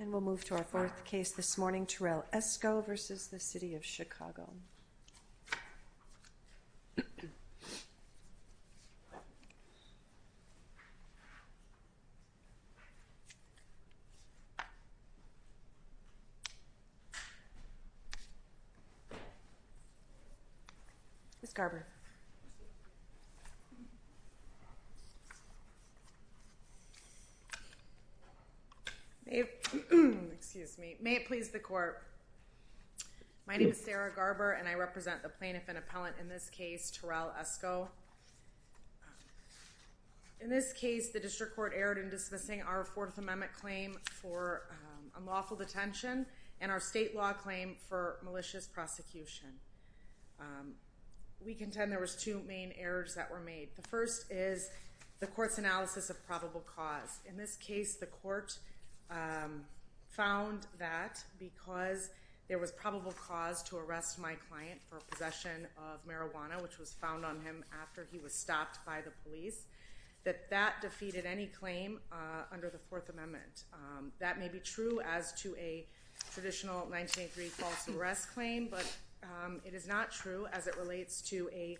And we'll move to our fourth case this morning, Terrell Esco v. City of Chicago. Ms. Garber. Excuse me. May it please the court. My name is Sarah Garber and I represent the plaintiff and appellant in this case, Terrell Esco. In this case, the district court erred in dismissing our Fourth Amendment claim for unlawful detention and our state law claim for malicious prosecution. We contend there were two main errors that were made. The first is the court's analysis of probable cause. In this case, the court found that because there was probable cause to arrest my client for possession of marijuana, which was found on him after he was stopped by the police, that that defeated any claim under the Fourth Amendment. That may be true as to a traditional 1983 false arrest claim, but it is not true as it relates to a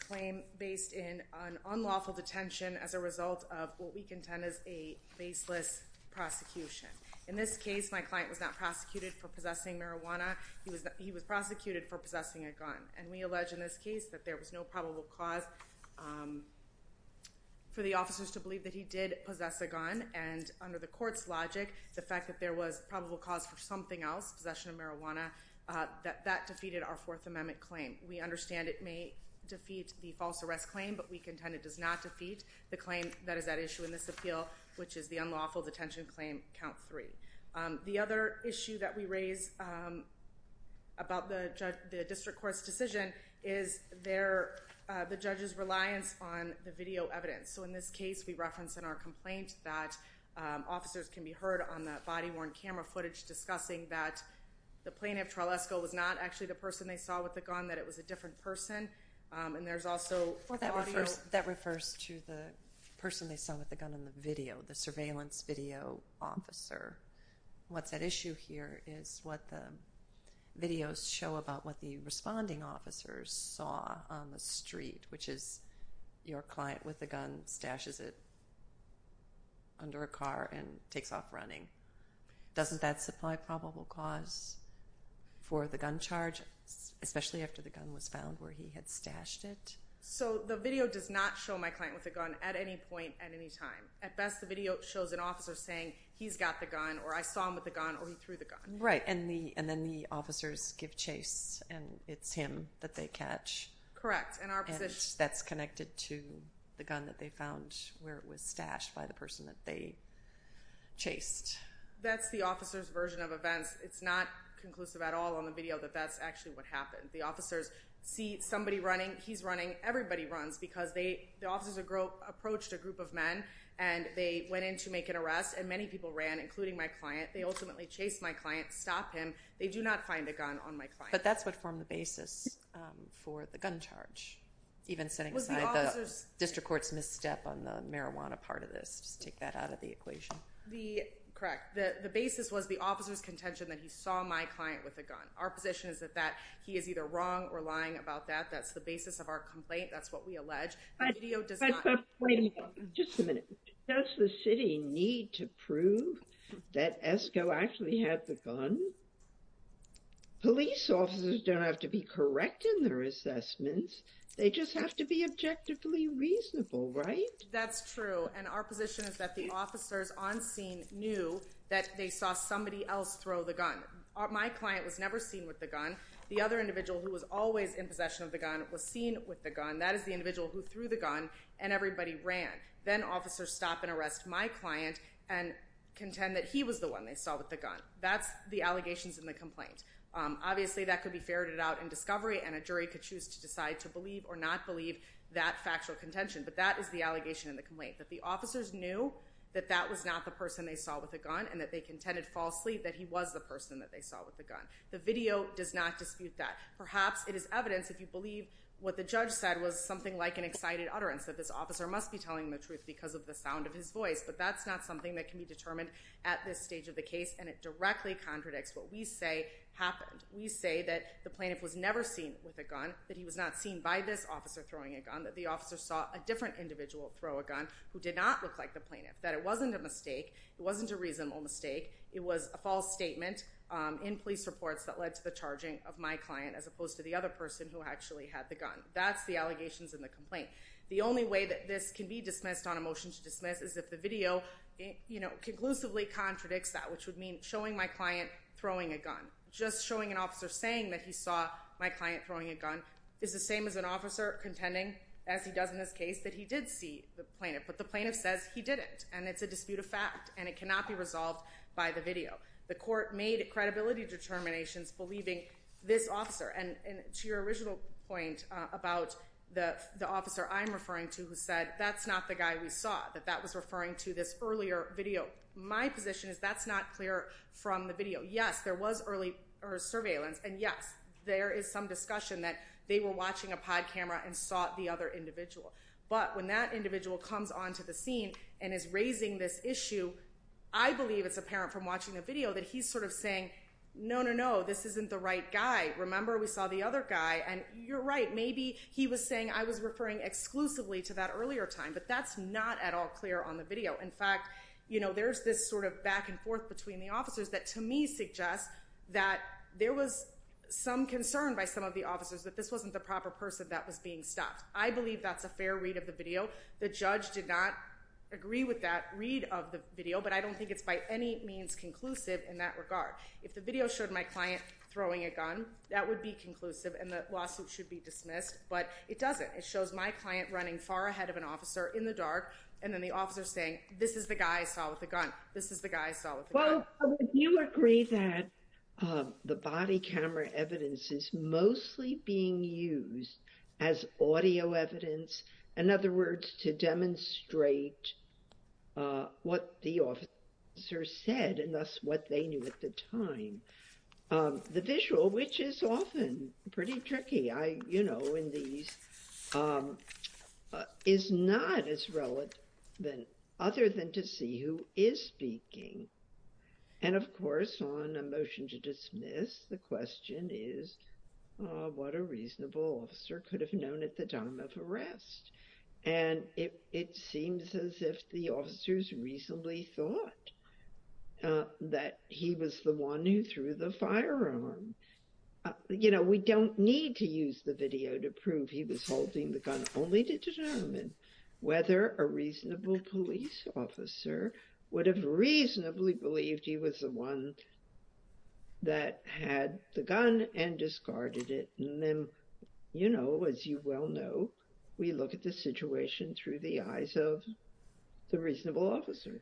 claim based in an unlawful detention as a result of what we contend is a baseless prosecution. In this case, my client was not prosecuted for possessing marijuana. He was prosecuted for possessing a gun. And we allege in this case that there was no probable cause for the officers to believe that he did possess a gun. And under the court's logic, the fact that there was probable cause for something else, possession of marijuana, that that defeated our Fourth Amendment claim. We understand it may defeat the false arrest claim, but we contend it does not defeat the claim that is at issue in this appeal, which is the unlawful detention claim, count three. The other issue that we raise about the district court's decision is the judge's reliance on the video evidence. So in this case, we reference in our complaint that officers can be heard on the body-worn camera footage discussing that the plaintiff, Tralesco, was not actually the person they saw with the gun, that it was a different person. And there's also audio. Well, that refers to the person they saw with the gun in the video, the surveillance video officer. What's at issue here is what the videos show about what the responding officers saw on the street, which is your client with a gun stashes it under a car and takes off running. Doesn't that supply probable cause for the gun charge, especially after the gun was found where he had stashed it? So the video does not show my client with a gun at any point at any time. At best, the video shows an officer saying he's got the gun or I saw him with the gun or he threw the gun. Right, and then the officers give chase and it's him that they catch. Correct. And that's connected to the gun that they found where it was stashed by the person that they chased. That's the officer's version of events. It's not conclusive at all on the video that that's actually what happened. The officers see somebody running. He's running. Everybody runs because the officers approached a group of men and they went in to make an arrest, and many people ran, including my client. They ultimately chased my client, stopped him. They do not find a gun on my client. But that's what formed the basis for the gun charge, even setting aside the district court's misstep on the marijuana part of this. Just take that out of the equation. Correct. The basis was the officer's contention that he saw my client with a gun. Our position is that he is either wrong or lying about that. That's the basis of our complaint. That's what we allege. Wait a minute. Just a minute. Does the city need to prove that Esco actually had the gun? Police officers don't have to be correct in their assessments. They just have to be objectively reasonable, right? That's true, and our position is that the officers on scene knew that they saw somebody else throw the gun. My client was never seen with the gun. The other individual who was always in possession of the gun was seen with the gun. That is the individual who threw the gun and everybody ran. Then officers stop and arrest my client and contend that he was the one they saw with the gun. That's the allegations in the complaint. Obviously, that could be ferreted out in discovery, and a jury could choose to decide to believe or not believe that factual contention. But that is the allegation in the complaint, that the officers knew that that was not the person they saw with the gun and that they contended falsely that he was the person that they saw with the gun. The video does not dispute that. Perhaps it is evidence if you believe what the judge said was something like an excited utterance, that this officer must be telling the truth because of the sound of his voice. But that's not something that can be determined at this stage of the case, and it directly contradicts what we say happened. We say that the plaintiff was never seen with a gun, that he was not seen by this officer throwing a gun, that the officer saw a different individual throw a gun who did not look like the plaintiff, that it wasn't a mistake, it wasn't a reasonable mistake, it was a false statement in police reports that led to the charging of my client as opposed to the other person who actually had the gun. That's the allegations in the complaint. The only way that this can be dismissed on a motion to dismiss is if the video conclusively contradicts that, which would mean showing my client throwing a gun. Just showing an officer saying that he saw my client throwing a gun is the same as an officer contending, as he does in this case, that he did see the plaintiff. But the plaintiff says he didn't, and it's a dispute of fact, and it cannot be resolved by the video. The court made credibility determinations believing this officer, and to your original point about the officer I'm referring to who said, that's not the guy we saw, that that was referring to this earlier video. My position is that's not clear from the video. Yes, there was early surveillance, and yes, there is some discussion that they were watching a pod camera and saw the other individual. But when that individual comes onto the scene and is raising this issue, I believe it's apparent from watching the video that he's sort of saying, no, no, no, this isn't the right guy. Remember, we saw the other guy, and you're right, maybe he was saying I was referring exclusively to that earlier time, but that's not at all clear on the video. In fact, you know, there's this sort of back and forth between the officers that to me suggests that there was some concern by some of the officers that this wasn't the proper person that was being stopped. I believe that's a fair read of the video. The judge did not agree with that read of the video, but I don't think it's by any means conclusive in that regard. If the video showed my client throwing a gun, that would be conclusive, and the lawsuit should be dismissed, but it doesn't. It shows my client running far ahead of an officer in the dark, and then the officer saying, this is the guy I saw with the gun, this is the guy I saw with the gun. Well, would you agree that the body camera evidence is mostly being used as audio evidence, in other words, to demonstrate what the officer said and thus what they knew at the time. The visual, which is often pretty tricky, you know, in these, is not as relevant other than to see who is speaking. And of course, on a motion to dismiss, the question is, what a reasonable officer could have known at the time of arrest. And it seems as if the officers reasonably thought that he was the one who threw the firearm. You know, we don't need to use the video to prove he was holding the gun, only to determine whether a reasonable police officer would have reasonably believed he was the one that had the gun and discarded it. And then, you know, as you well know, we look at the situation through the eyes of the reasonable officer.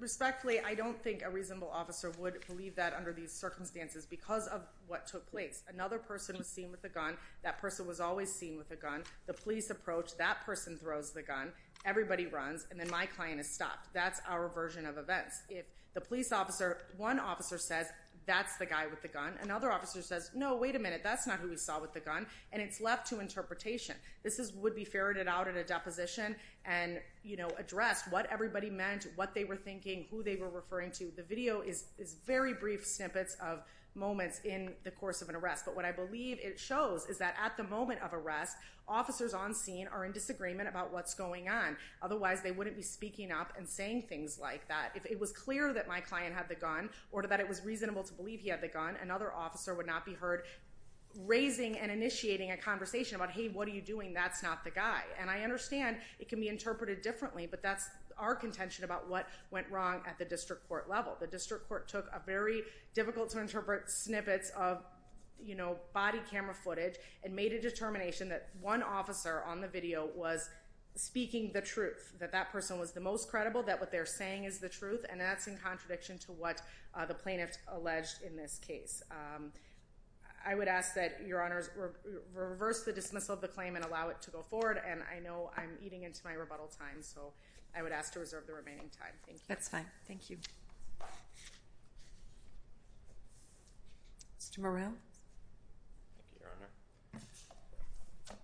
Respectfully, I don't think a reasonable officer would believe that under these circumstances because of what took place. Another person was seen with a gun, that person was always seen with a gun, the police approach, that person throws the gun, everybody runs, and then my client is stopped. That's our version of events. If the police officer, one officer says, that's the guy with the gun, another officer says, no, wait a minute, that's not who we saw with the gun, and it's left to interpretation. This would be ferreted out in a deposition and, you know, addressed what everybody meant, what they were thinking, who they were referring to. The video is very brief snippets of moments in the course of an arrest. But what I believe it shows is that at the moment of arrest, officers on scene are in disagreement about what's going on. Otherwise, they wouldn't be speaking up and saying things like that. If it was clear that my client had the gun or that it was reasonable to believe he had the gun, another officer would not be heard raising and initiating a conversation about, hey, what are you doing, that's not the guy. And I understand it can be interpreted differently, but that's our contention about what went wrong at the district court level. The district court took a very difficult to interpret snippets of, you know, body camera footage and made a determination that one officer on the video was speaking the truth, that that person was the most credible, that what they're saying is the truth, and that's in contradiction to what the plaintiff alleged in this case. I would ask that your honors reverse the dismissal of the claim and allow it to go forward, and I know I'm eating into my rebuttal time, so I would ask to reserve the remaining time. Thank you. That's fine. Thank you. Mr. Morrell. Thank you, Your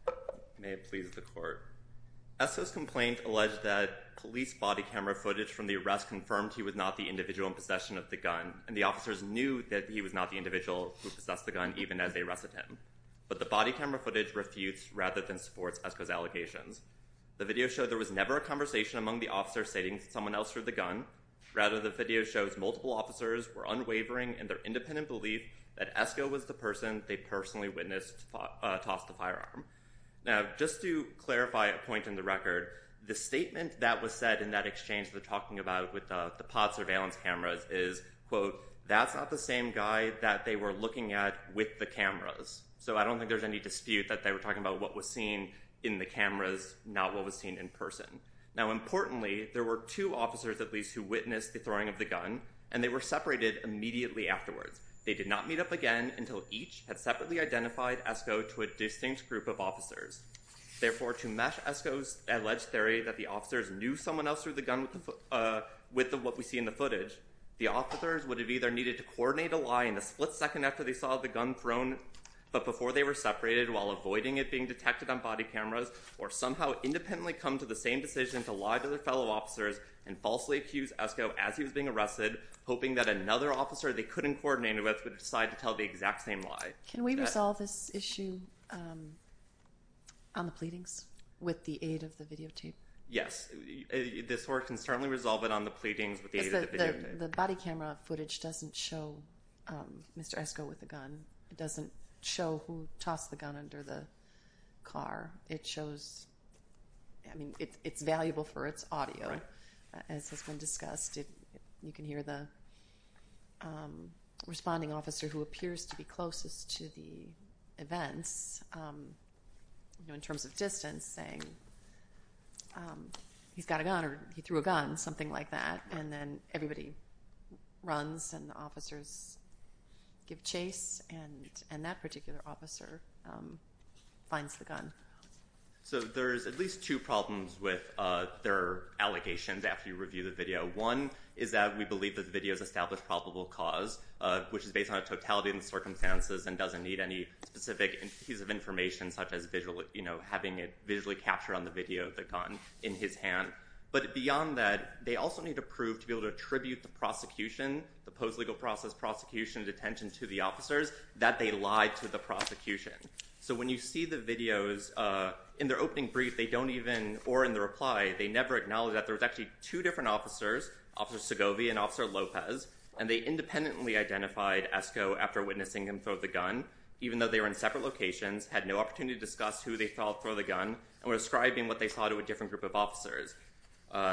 Honor. May it please the court. ESCO's complaint alleged that police body camera footage from the arrest confirmed he was not the individual in possession of the gun, and the officers knew that he was not the individual who possessed the gun even as they arrested him, but the body camera footage refutes rather than supports ESCO's allegations. The video showed there was never a conversation among the officers stating someone else threw the gun. Rather, the video shows multiple officers were unwavering in their independent belief that ESCO was the person they personally witnessed toss the firearm. Now, just to clarify a point in the record, the statement that was said in that exchange they're talking about with the pod surveillance cameras is, quote, that's not the same guy that they were looking at with the cameras. So I don't think there's any dispute that they were talking about what was seen in the cameras, not what was seen in person. Now, importantly, there were two officers, at least, who witnessed the throwing of the gun, and they were separated immediately afterwards. They did not meet up again until each had separately identified ESCO to a distinct group of officers. Therefore, to match ESCO's alleged theory that the officers knew someone else threw the gun with what we see in the footage, the officers would have either needed to coordinate a lie in the split second after they saw the gun thrown, but before they were separated while avoiding it being detected on body cameras, or somehow independently come to the same decision to lie to their fellow officers and falsely accuse ESCO as he was being arrested, hoping that another officer they couldn't coordinate with would decide to tell the exact same lie. Can we resolve this issue on the pleadings with the aid of the videotape? Yes. This work can certainly resolve it on the pleadings with the aid of the videotape. The body camera footage doesn't show Mr. ESCO with a gun. It doesn't show who tossed the gun under the car. It shows, I mean, it's valuable for its audio. As has been discussed, you can hear the responding officer who appears to be closest to the events, you know, in terms of distance, saying he's got a gun or he threw a gun, something like that, and then everybody runs and the officers give chase, and that particular officer finds the gun. So there's at least two problems with their allegations after you review the video. One is that we believe that the video has established probable cause, which is based on a totality of the circumstances and doesn't need any specific piece of information, such as having it visually captured on the video of the gun in his hand. But beyond that, they also need to prove to be able to attribute the prosecution, the post-legal process prosecution detention to the officers, that they lied to the prosecution. So when you see the videos, in their opening brief they don't even, or in the reply, they never acknowledge that there was actually two different officers, Officer Segovia and Officer Lopez, and they independently identified ESCO after witnessing him throw the gun, even though they were in separate locations, had no opportunity to discuss who they thought threw the gun, and were ascribing what they saw to a different group of officers.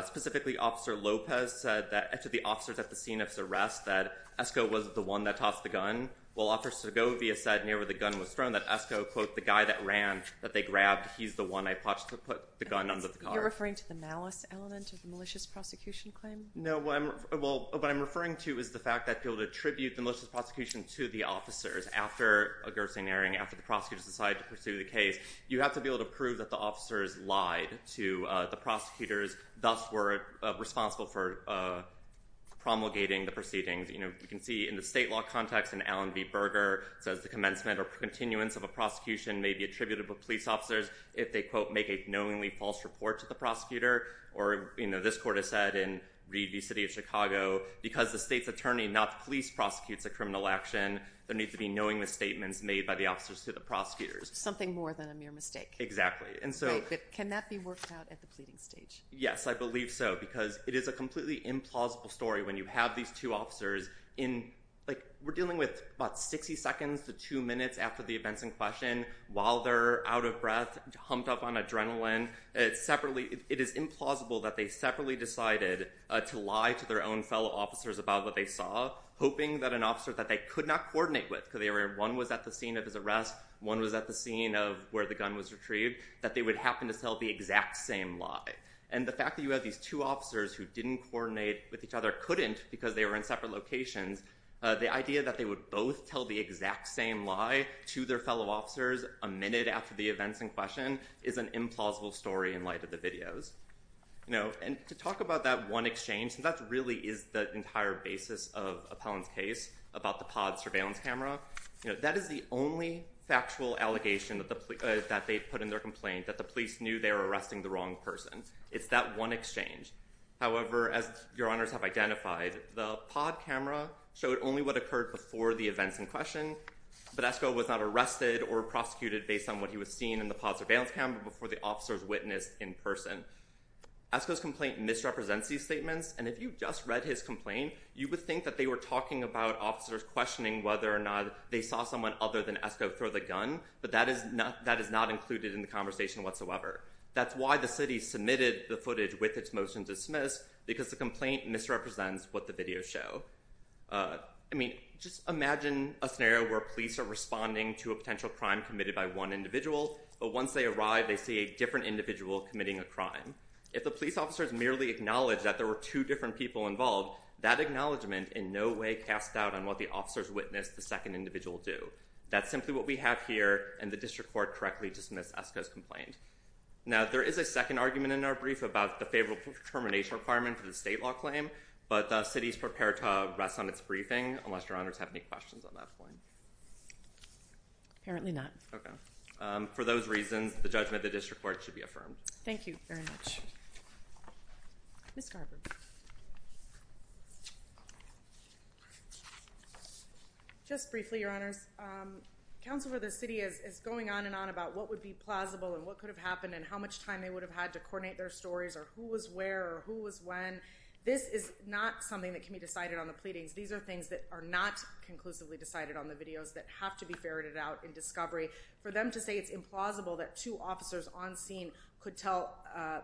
Specifically, Officer Lopez said to the officers at the scene of his arrest that ESCO was the one that tossed the gun, while Officer Segovia said near where the gun was thrown that ESCO, quote, the guy that ran, that they grabbed, he's the one that put the gun under the car. Are you referring to the malice element of the malicious prosecution claim? No. What I'm referring to is the fact that to be able to attribute the malicious prosecution to the officers after a guerrilla scenario, after the prosecutors decide to pursue the case, you have to be able to prove that the officers lied to the prosecutors, thus were responsible for promulgating the proceedings. You can see in the state law context in Allen v. Berger, it says the commencement or continuance of a prosecution may be attributed to police officers if they, quote, make a knowingly false report to the prosecutor, or this court has said in Reed v. City of Chicago, because the state's attorney, not the police, prosecutes a criminal action, there needs to be knowingly statements made by the officers to the prosecutors. Something more than a mere mistake. Exactly. Right, but can that be worked out at the pleading stage? Yes, I believe so, because it is a completely implausible story when you have these two officers in, like, we're dealing with about 60 seconds to 2 minutes after the events in question. While they're out of breath, humped up on adrenaline, it is implausible that they separately decided to lie to their own fellow officers about what they saw, hoping that an officer that they could not coordinate with, because one was at the scene of his arrest, one was at the scene of where the gun was retrieved, that they would happen to tell the exact same lie. And the fact that you have these two officers who didn't coordinate with each other, couldn't because they were in separate locations, the idea that they would both tell the exact same lie to their fellow officers a minute after the events in question is an implausible story in light of the videos. And to talk about that one exchange, that really is the entire basis of Appellant's case about the pod surveillance camera. That is the only factual allegation that they put in their complaint, that the police knew they were arresting the wrong person. It's that one exchange. However, as your honors have identified, the pod camera showed only what occurred before the events in question, but Esko was not arrested or prosecuted based on what he was seeing in the pod surveillance camera before the officers witnessed in person. Esko's complaint misrepresents these statements, and if you just read his complaint, you would think that they were talking about officers questioning whether or not they saw someone other than Esko throw the gun, but that is not included in the conversation whatsoever. That's why the city submitted the footage with its motion dismissed, because the complaint misrepresents what the videos show. I mean, just imagine a scenario where police are responding to a potential crime committed by one individual, but once they arrive, they see a different individual committing a crime. If the police officers merely acknowledge that there were two different people involved, that acknowledgement in no way casts doubt on what the officers witnessed the second individual do. That's simply what we have here, and the district court correctly dismissed Esko's complaint. Now, there is a second argument in our brief about the favorable determination requirement for the state law claim, but the city is prepared to rest on its briefing, unless your honors have any questions on that point. Apparently not. Okay. For those reasons, the judgment of the district court should be affirmed. Thank you very much. Ms. Garber. Just briefly, your honors, counsel for the city is going on and on about what would be plausible and what could have happened and how much time they would have had to coordinate their stories or who was where or who was when. This is not something that can be decided on the pleadings. These are things that are not conclusively decided on the videos that have to be ferreted out in discovery. For them to say it's implausible that two officers on scene could tell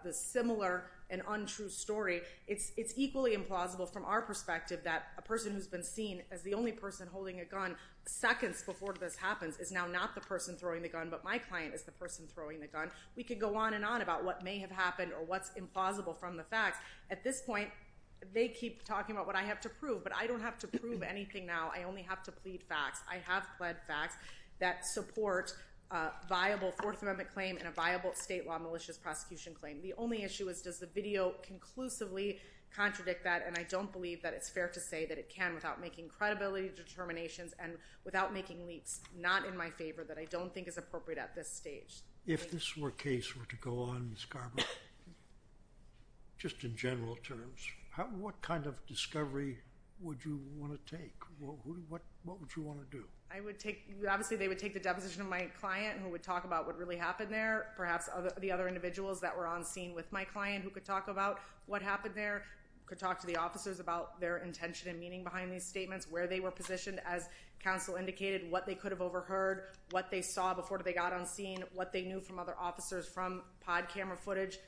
the similar and untrue story, it's equally implausible from our perspective that a person who's been seen as the only person holding a gun seconds before this happens is now not the person throwing the gun, but my client is the person throwing the gun. We could go on and on about what may have happened or what's implausible from the facts. At this point, they keep talking about what I have to prove, but I don't have to prove anything now. I only have to plead facts. I have pled facts that support a viable Fourth Amendment claim and a viable state law malicious prosecution claim. The only issue is does the video conclusively contradict that, and I don't believe that it's fair to say that it can without making credibility determinations and without making leaps not in my favor that I don't think is appropriate at this stage. If this were a case were to go on in Scarborough, just in general terms, what kind of discovery would you want to take? What would you want to do? Obviously, they would take the deposition of my client who would talk about what really happened there, perhaps the other individuals that were on scene with my client who could talk about what happened there, could talk to the officers about their intention and meaning behind these statements, where they were positioned, as counsel indicated, what they could have overheard, what they saw before they got on scene, what they knew from other officers from pod camera footage,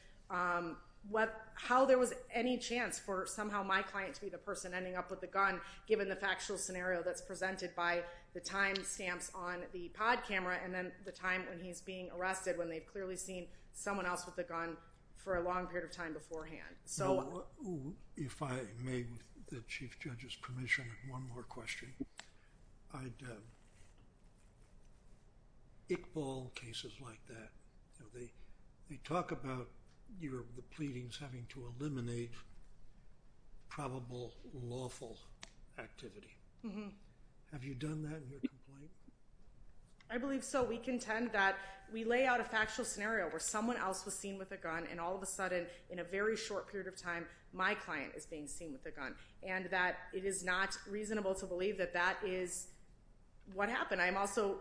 how there was any chance for somehow my client to be the person ending up with the gun given the factual scenario that's presented by the time stamps on the pod camera and then the time when he's being arrested when they've clearly seen someone else with the gun for a long period of time beforehand. If I may, with the Chief Judge's permission, one more question. Iqbal cases like that, they talk about the pleadings having to eliminate probable lawful activity. Have you done that in your complaint? I believe so. We contend that we lay out a factual scenario where someone else was seen with a gun and all of a sudden in a very short period of time my client is being seen with a gun, and that it is not reasonable to believe that that is what happened. I also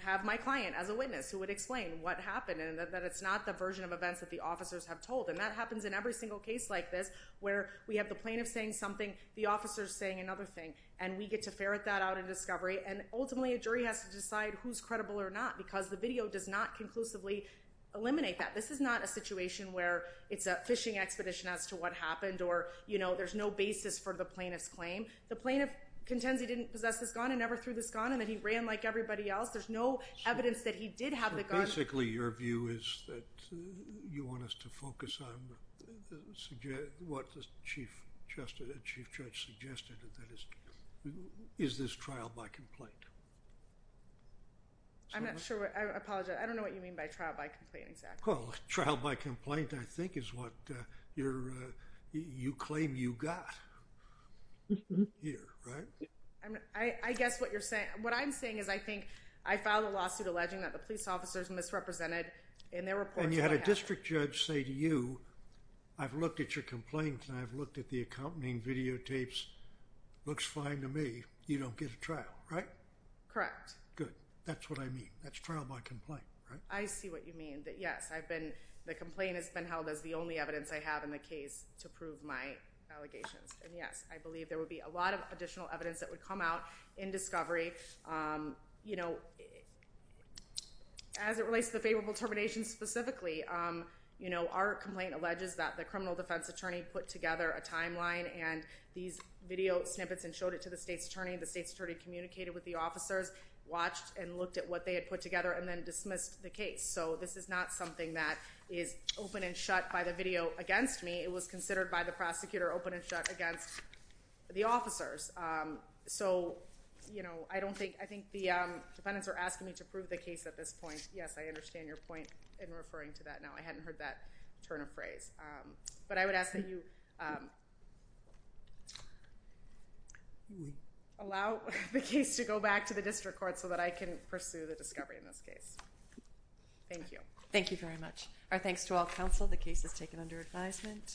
have my client as a witness who would explain what happened and that it's not the version of events that the officers have told, and that happens in every single case like this where we have the plaintiff saying something, the officer's saying another thing, and we get to ferret that out in discovery, and ultimately a jury has to decide who's credible or not because the video does not conclusively eliminate that. This is not a situation where it's a fishing expedition as to what happened or there's no basis for the plaintiff's claim. The plaintiff contends he didn't possess this gun and never threw this gun and that he ran like everybody else. There's no evidence that he did have the gun. Basically your view is that you want us to focus on what the Chief Judge suggested, and that is, is this trial by complaint? I'm not sure. I apologize. I don't know what you mean by trial by complaint exactly. Well, trial by complaint I think is what you claim you got here, right? I guess what I'm saying is I think I filed a lawsuit alleging that the police officers misrepresented in their reports. And you had a district judge say to you, I've looked at your complaints and I've looked at the accompanying videotapes. It looks fine to me. You don't get a trial, right? Correct. Good. That's what I mean. That's trial by complaint, right? I see what you mean. Yes, the complaint has been held as the only evidence I have in the case to prove my allegations, and yes, I believe there would be a lot of additional evidence that would come out in discovery. You know, as it relates to the favorable termination specifically, you know, our complaint alleges that the criminal defense attorney put together a timeline and these video snippets and showed it to the state's attorney. The state's attorney communicated with the officers, watched and looked at what they had put together, and then dismissed the case. So this is not something that is open and shut by the video against me. It was considered by the prosecutor open and shut against the officers. So, you know, I think the defendants are asking me to prove the case at this point. Yes, I understand your point in referring to that now. I hadn't heard that turn of phrase. But I would ask that you allow the case to go back to the district court so that I can pursue the discovery in this case. Thank you. Thank you very much. Our thanks to all counsel. The case is taken under advisement.